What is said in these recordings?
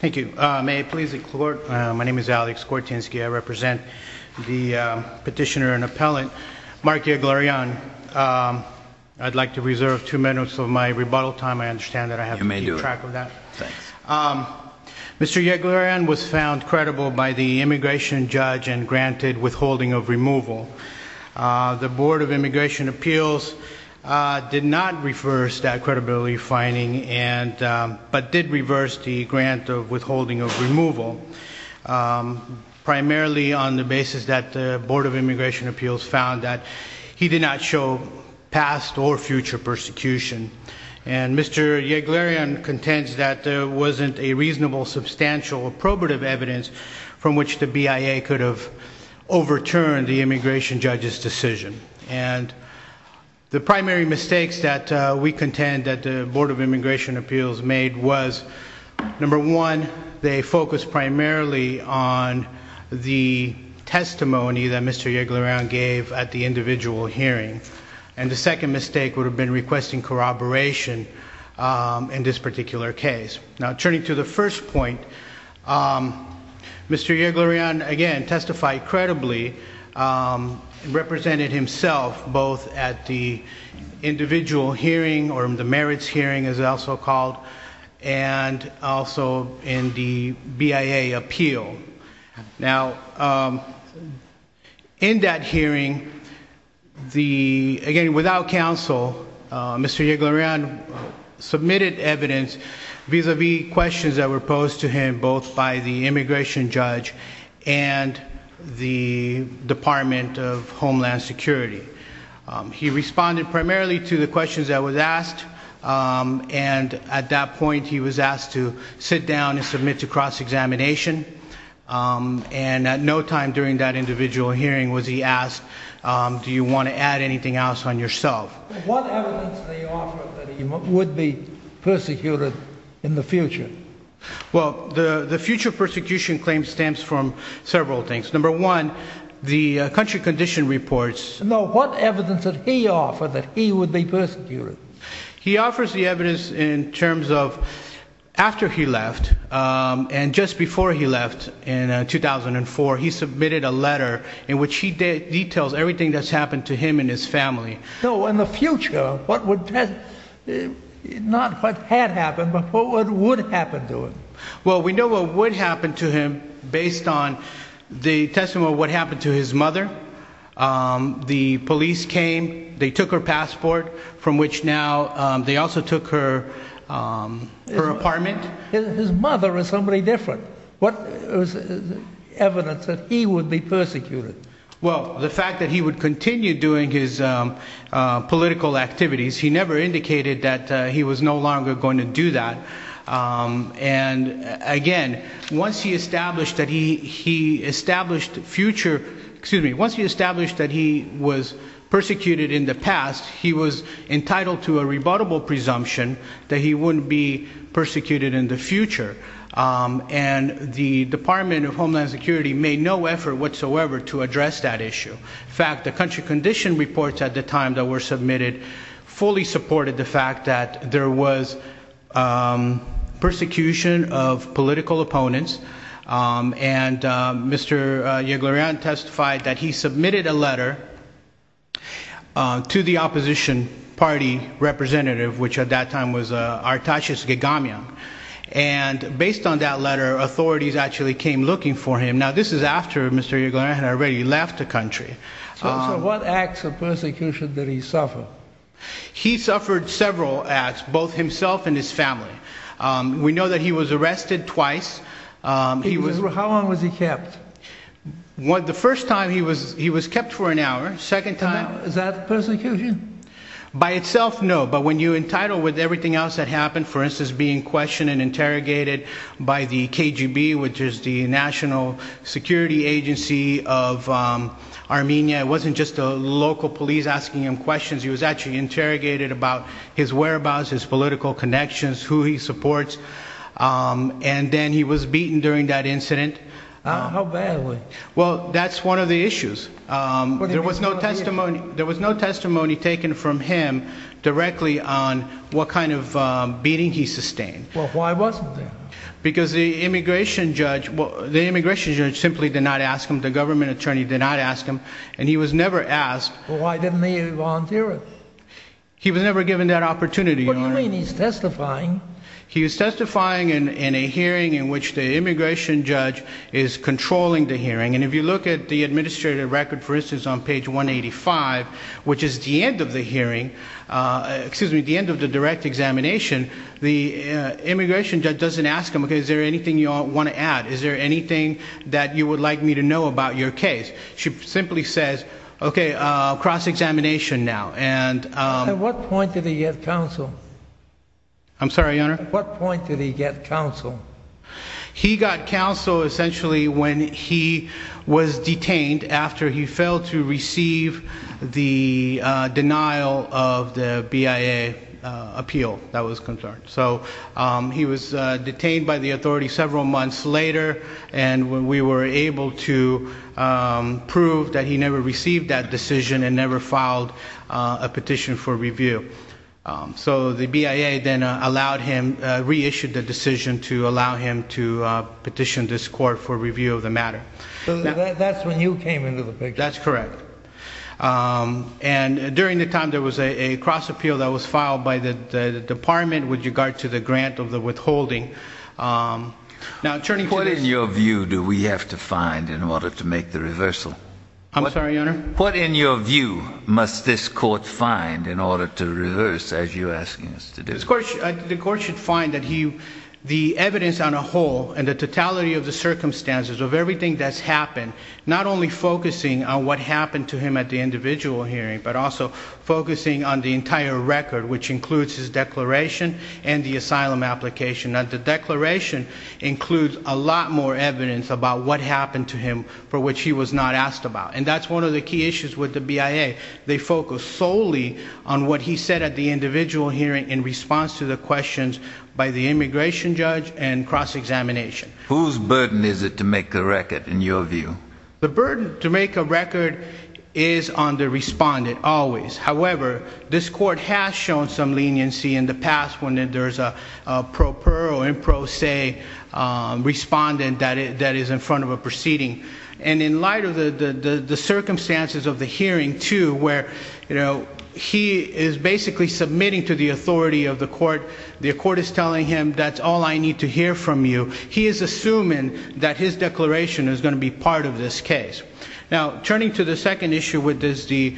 Thank you. May I please include, my name is Alex Kortinsky. I represent the petitioner and appellant, Mark Yeglaryan. I'd like to reserve two minutes of my rebuttal time. I understand that I have to keep track of that. You may do it. Thanks. Mr. Yeglaryan was found credible by the immigration judge and granted withholding of removal. The Board of Immigration Appeals did not reverse that credibility finding, but did reverse the grant of withholding of removal, primarily on the basis that the Board of Immigration Appeals found that he did not show past or future persecution. And Mr. Yeglaryan contends that there wasn't a reasonable, substantial, or probative evidence from which the BIA could have overturned the immigration judge's decision. And the primary mistakes that we contend that the Board of Immigration Appeals made was, number one, they focused primarily on the testimony that Mr. Yeglaryan gave at the individual hearing. And the second mistake would have been requesting corroboration in this particular case. Now, turning to the first point, Mr. Yeglaryan, again, testified credibly, represented himself both at the individual hearing, or the merits hearing, as it's also called, and also in the BIA appeal. Now, in that hearing, again, without counsel, Mr. Yeglaryan submitted evidence vis-a-vis questions that were posed to him both by the immigration judge and the Department of Homeland Security. He responded primarily to the questions that were asked, and at that point he was asked to sit down and submit to cross-examination. And at no time during that individual hearing was he asked, do you want to add anything else on yourself? What evidence did he offer that he would be persecuted in the future? Well, the future persecution claim stems from several things. Number one, the country condition reports. No, what evidence did he offer that he would be persecuted? He offers the evidence in terms of, after he left, and just before he left in 2004, he submitted a letter in which he details everything that's happened to him and his family. No, in the future, not what had happened, but what would happen to him. Well, we know what would happen to him based on the testimony of what happened to his mother. The police came, they took her passport, from which now they also took her apartment. His mother was somebody different. What evidence that he would be persecuted? Well, the fact that he would continue doing his political activities. He never indicated that he was no longer going to do that. And, again, once he established that he was persecuted in the past, he was entitled to a rebuttable presumption that he wouldn't be persecuted in the future. And the Department of Homeland Security made no effort whatsoever to address that issue. In fact, the country condition reports at the time that were submitted fully supported the fact that there was persecution of political opponents. And Mr. Yeglorian testified that he submitted a letter to the opposition party representative, which at that time was Artashis Geghamian. And based on that letter, authorities actually came looking for him. Now, this is after Mr. Yeglorian had already left the country. So what acts of persecution did he suffer? He suffered several acts, both himself and his family. We know that he was arrested twice. How long was he kept? The first time he was kept for an hour. Is that persecution? By itself, no. But when you're entitled with everything else that happened, for instance, being questioned and interrogated by the KGB, which is the national security agency of Armenia. It wasn't just a local police asking him questions. He was actually interrogated about his whereabouts, his political connections, who he supports. And then he was beaten during that incident. How badly? Well, that's one of the issues. There was no testimony taken from him directly on what kind of beating he sustained. Well, why wasn't there? Because the immigration judge simply did not ask him. The government attorney did not ask him. And he was never asked. Well, why didn't he volunteer it? He was never given that opportunity, Your Honor. What do you mean? He's testifying. He was testifying in a hearing in which the immigration judge is controlling the hearing. And if you look at the administrative record, for instance, on page 185, which is the end of the hearing, excuse me, the end of the direct examination, the immigration judge doesn't ask him, okay, is there anything you want to add? Is there anything that you would like me to know about your case? She simply says, okay, cross-examination now. At what point did he get counsel? I'm sorry, Your Honor? At what point did he get counsel? He got counsel essentially when he was detained after he failed to receive the denial of the BIA appeal that was concerned. So he was detained by the authority several months later, and we were able to prove that he never received that decision and never filed a petition for review. So the BIA then allowed him, reissued the decision to allow him to petition this court for review of the matter. So that's when you came into the picture. That's correct. And during the time there was a cross-appeal that was filed by the department with regard to the grant of the withholding. What, in your view, do we have to find in order to make the reversal? I'm sorry, Your Honor? What, in your view, must this court find in order to reverse as you're asking us to do? The court should find that the evidence on a whole and the totality of the circumstances of everything that's happened, not only focusing on what happened to him at the individual hearing, but also focusing on the entire record, which includes his declaration and the asylum application. The declaration includes a lot more evidence about what happened to him for which he was not asked about. And that's one of the key issues with the BIA. They focus solely on what he said at the individual hearing in response to the questions by the immigration judge and cross-examination. Whose burden is it to make the record, in your view? The burden to make a record is on the respondent always. However, this court has shown some leniency in the past when there's a pro per or in pro se respondent that is in front of a proceeding. And in light of the circumstances of the hearing, too, where he is basically submitting to the authority of the court, the court is telling him, that's all I need to hear from you. He is assuming that his declaration is going to be part of this case. Now, turning to the second issue, which is the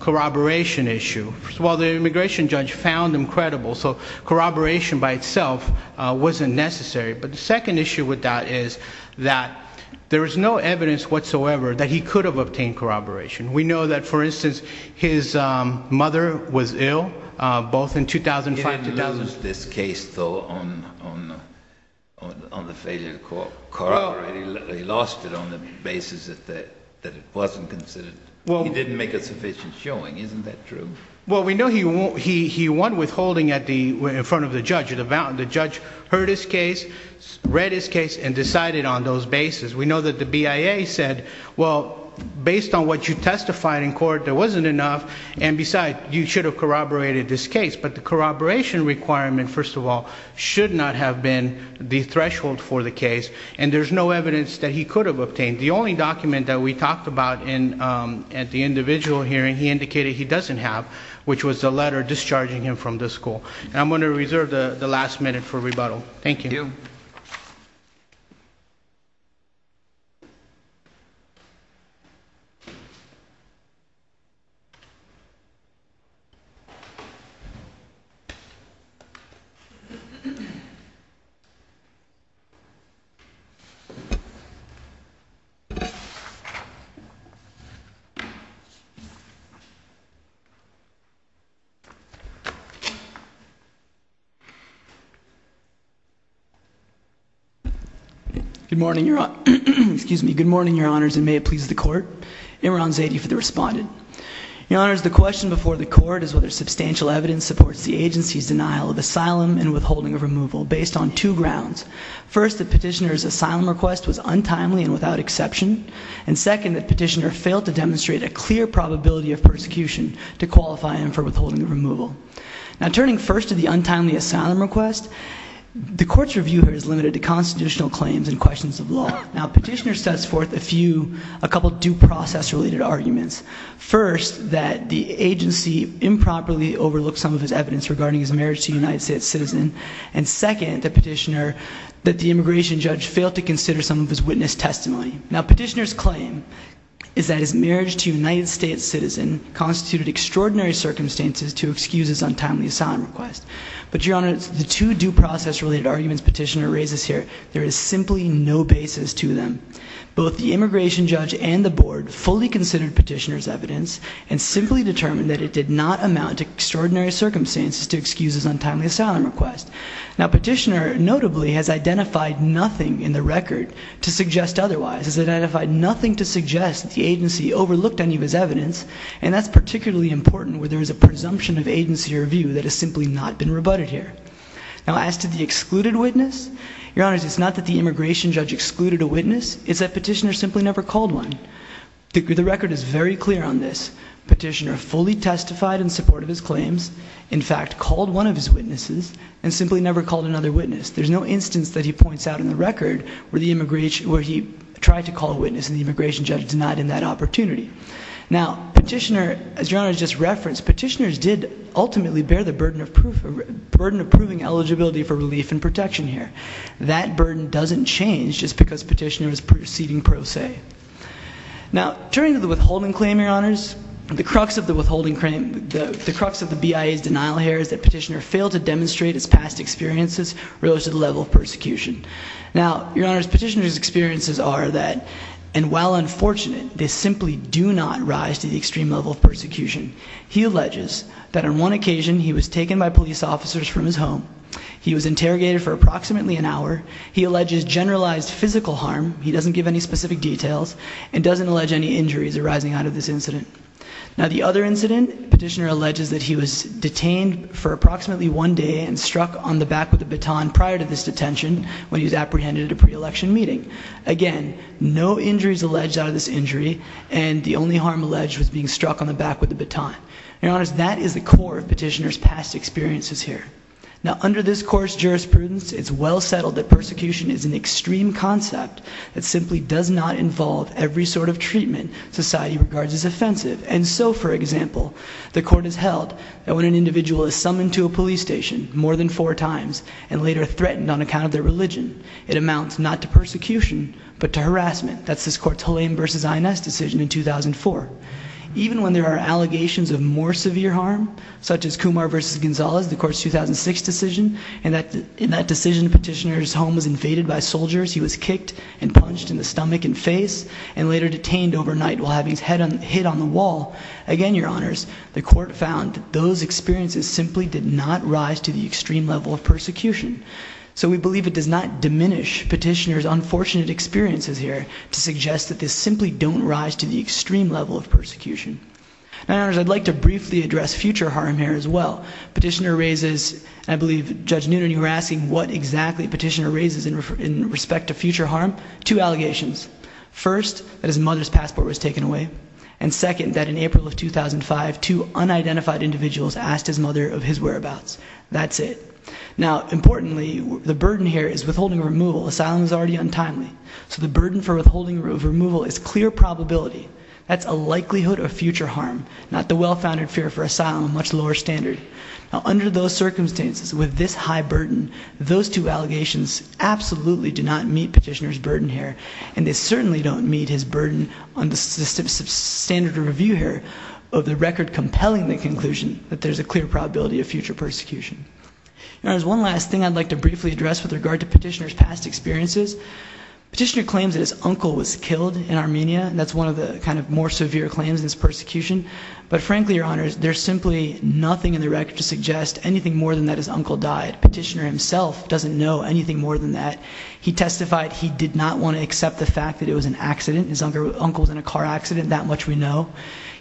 corroboration issue. Well, the immigration judge found him credible, so corroboration by itself wasn't necessary. But the second issue with that is that there is no evidence whatsoever that he could have obtained corroboration. We know that, for instance, his mother was ill, both in 2005 and 2000. He didn't lose this case, though, on the failure to corroborate. He lost it on the basis that it wasn't considered. He didn't make a sufficient showing. Isn't that true? Well, we know he won withholding in front of the judge. The judge heard his case, read his case, and decided on those bases. We know that the BIA said, well, based on what you testified in court, there wasn't enough, and besides, you should have corroborated this case. But the corroboration requirement, first of all, should not have been the threshold for the case, and there's no evidence that he could have obtained. The only document that we talked about at the individual hearing, he indicated he doesn't have, which was the letter discharging him from the school. I'm going to reserve the last minute for rebuttal. Thank you. Good morning, Your Honor. Excuse me. Good morning, Your Honors, and may it please the Court. Imran Zaidi for the respondent. Your Honors, the question before the Court is whether substantial evidence supports the agency's denial of asylum and withholding of removal based on two grounds. First, the petitioner's asylum request was untimely and without exception, and second, the petitioner failed to demonstrate a clear probability of persecution to qualify him for withholding of removal. Now, turning first to the untimely asylum request, the Court's review here is limited to constitutional claims and questions of law. Now, petitioner sets forth a few, a couple due process-related arguments. First, that the agency improperly overlooked some of his evidence regarding his marriage to a United States citizen, and second, the petitioner, that the immigration judge failed to consider some of his witness testimony. Now, petitioner's claim is that his marriage to a United States citizen constituted extraordinary circumstances to excuse his untimely asylum request. But, Your Honors, the two due process-related arguments petitioner raises here, there is simply no basis to them. Both the immigration judge and the Board fully considered petitioner's evidence and simply determined that it did not amount to extraordinary circumstances to excuse his untimely asylum request. Now, petitioner, notably, has identified nothing in the record to suggest otherwise, has identified nothing to suggest that the agency overlooked any of his evidence, and that's particularly important where there is a presumption of agency review that has simply not been rebutted here. Now, as to the excluded witness, Your Honors, it's not that the immigration judge excluded a witness, it's that petitioner simply never called one. The record is very clear on this. Petitioner fully testified in support of his claims, in fact called one of his witnesses, and simply never called another witness. There's no instance that he points out in the record where he tried to call a witness and the immigration judge denied him that opportunity. Now, petitioner, as Your Honors just referenced, petitioners did ultimately bear the burden of proving eligibility for relief and protection here. That burden doesn't change just because petitioner is proceeding pro se. Now, turning to the withholding claim, Your Honors, the crux of the withholding claim, the crux of the BIA's denial here is that petitioner failed to demonstrate his past experiences relative to the level of persecution. Now, Your Honors, petitioner's experiences are that, and while unfortunate, they simply do not rise to the extreme level of persecution. He alleges that on one occasion he was taken by police officers from his home. He was interrogated for approximately an hour. He alleges generalized physical harm. He doesn't give any specific details and doesn't allege any injuries arising out of this incident. Now, the other incident, petitioner alleges that he was detained for approximately one day and struck on the back with a baton prior to this detention when he was apprehended at a pre-election meeting. Again, no injuries alleged out of this injury, and the only harm alleged was being struck on the back with a baton. Your Honors, that is the core of petitioner's past experiences here. Now, under this court's jurisprudence, it's well settled that persecution is an extreme concept that simply does not involve every sort of treatment society regards as offensive. And so, for example, the court has held that when an individual is summoned to a police station more than four times and later threatened on account of their religion, it amounts not to persecution but to harassment. That's this court's Hulain v. Ines decision in 2004. Even when there are allegations of more severe harm, such as Kumar v. Gonzalez, the court's 2006 decision, in that decision, petitioner's home was invaded by soldiers. He was kicked and punched in the stomach and face and later detained overnight while having his head hit on the wall. Again, Your Honors, the court found that those experiences simply did not rise to the extreme level of persecution. So we believe it does not diminish petitioner's unfortunate experiences here to suggest that this simply don't rise to the extreme level of persecution. Now, Your Honors, I'd like to briefly address future harm here as well. Petitioner raises, and I believe Judge Noonan, you were asking what exactly petitioner raises in respect to future harm. Two allegations. First, that his mother's passport was taken away. And second, that in April of 2005, two unidentified individuals asked his mother of his whereabouts. That's it. Now, importantly, the burden here is withholding removal. Asylum is already untimely. So the burden for withholding removal is clear probability. That's a likelihood of future harm, not the well-founded fear for asylum, a much lower standard. Now, under those circumstances, with this high burden, those two allegations absolutely do not meet petitioner's burden here, and they certainly don't meet his burden on the standard of review here of the record compelling the conclusion that there's a clear probability of future persecution. Your Honors, one last thing I'd like to briefly address with regard to petitioner's past experiences. Petitioner claims that his uncle was killed in Armenia, and that's one of the kind of more severe claims in this persecution. But frankly, Your Honors, there's simply nothing in the record to suggest anything more than that his uncle died. Petitioner himself doesn't know anything more than that. He testified he did not want to accept the fact that it was an accident, his uncle was in a car accident, that much we know.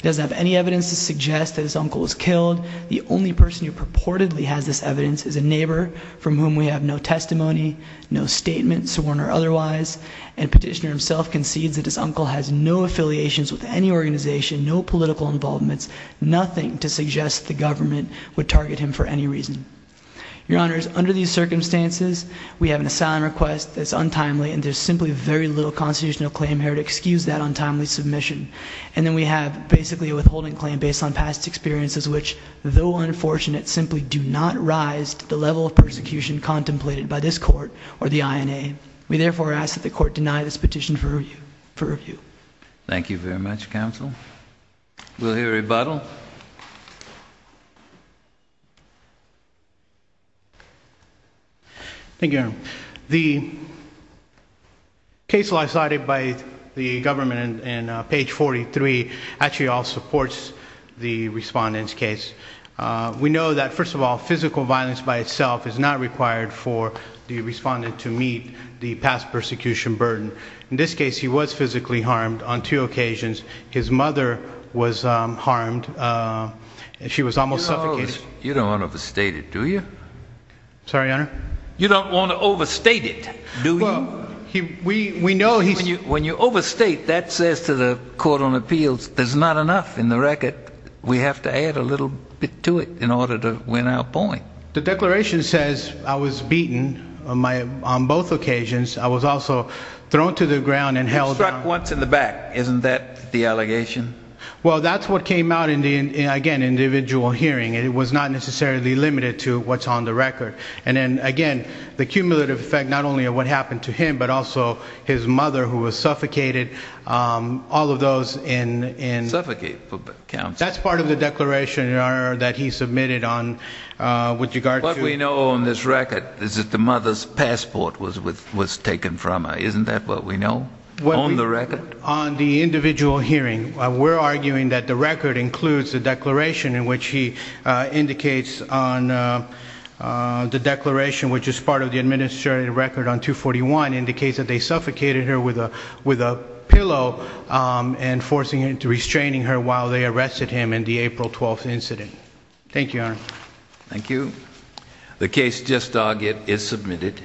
He doesn't have any evidence to suggest that his uncle was killed. The only person who purportedly has this evidence is a neighbor from whom we have no testimony, no statement, sworn or otherwise. And petitioner himself concedes that his uncle has no affiliations with any organization, no political involvements, nothing to suggest the government would target him for any reason. Your Honors, under these circumstances, we have an asylum request that's untimely, and there's simply very little constitutional claim here to excuse that untimely submission. And then we have basically a withholding claim based on past experiences which, though unfortunate, simply do not rise to the level of persecution contemplated by this court or the INA. We therefore ask that the court deny this petition for review. Thank you very much, counsel. We'll hear rebuttal. Thank you, Your Honor. The case lies cited by the government in page 43 actually all supports the respondent's case. We know that, first of all, physical violence by itself is not required for the respondent to meet the past persecution burden. In this case, he was physically harmed on two occasions. His mother was harmed. She was almost suffocated. Sorry, Your Honor? You don't want to overstate it, do you? We know he's... When you overstate, that says to the Court on Appeals there's not enough in the record. We have to add a little bit to it in order to win our point. The declaration says I was beaten on both occasions. I was also thrown to the ground and held on... You were struck once in the back. Isn't that the allegation? Well, that's what came out in the, again, individual hearing. It was not necessarily limited to what's on the record. And then, again, the cumulative effect not only of what happened to him but also his mother, who was suffocated, all of those in... Suffocated for counsel. That's part of the declaration, Your Honor, that he submitted on... What we know on this record is that the mother's passport was taken from her. Isn't that what we know on the record? On the individual hearing, we're arguing that the record includes a declaration in which he indicates on the declaration, which is part of the administrative record on 241, indicates that they suffocated her with a pillow and forcing her into restraining her while they arrested him in the April 12th incident. Thank you, Your Honor. Thank you. The case just dogged is submitted.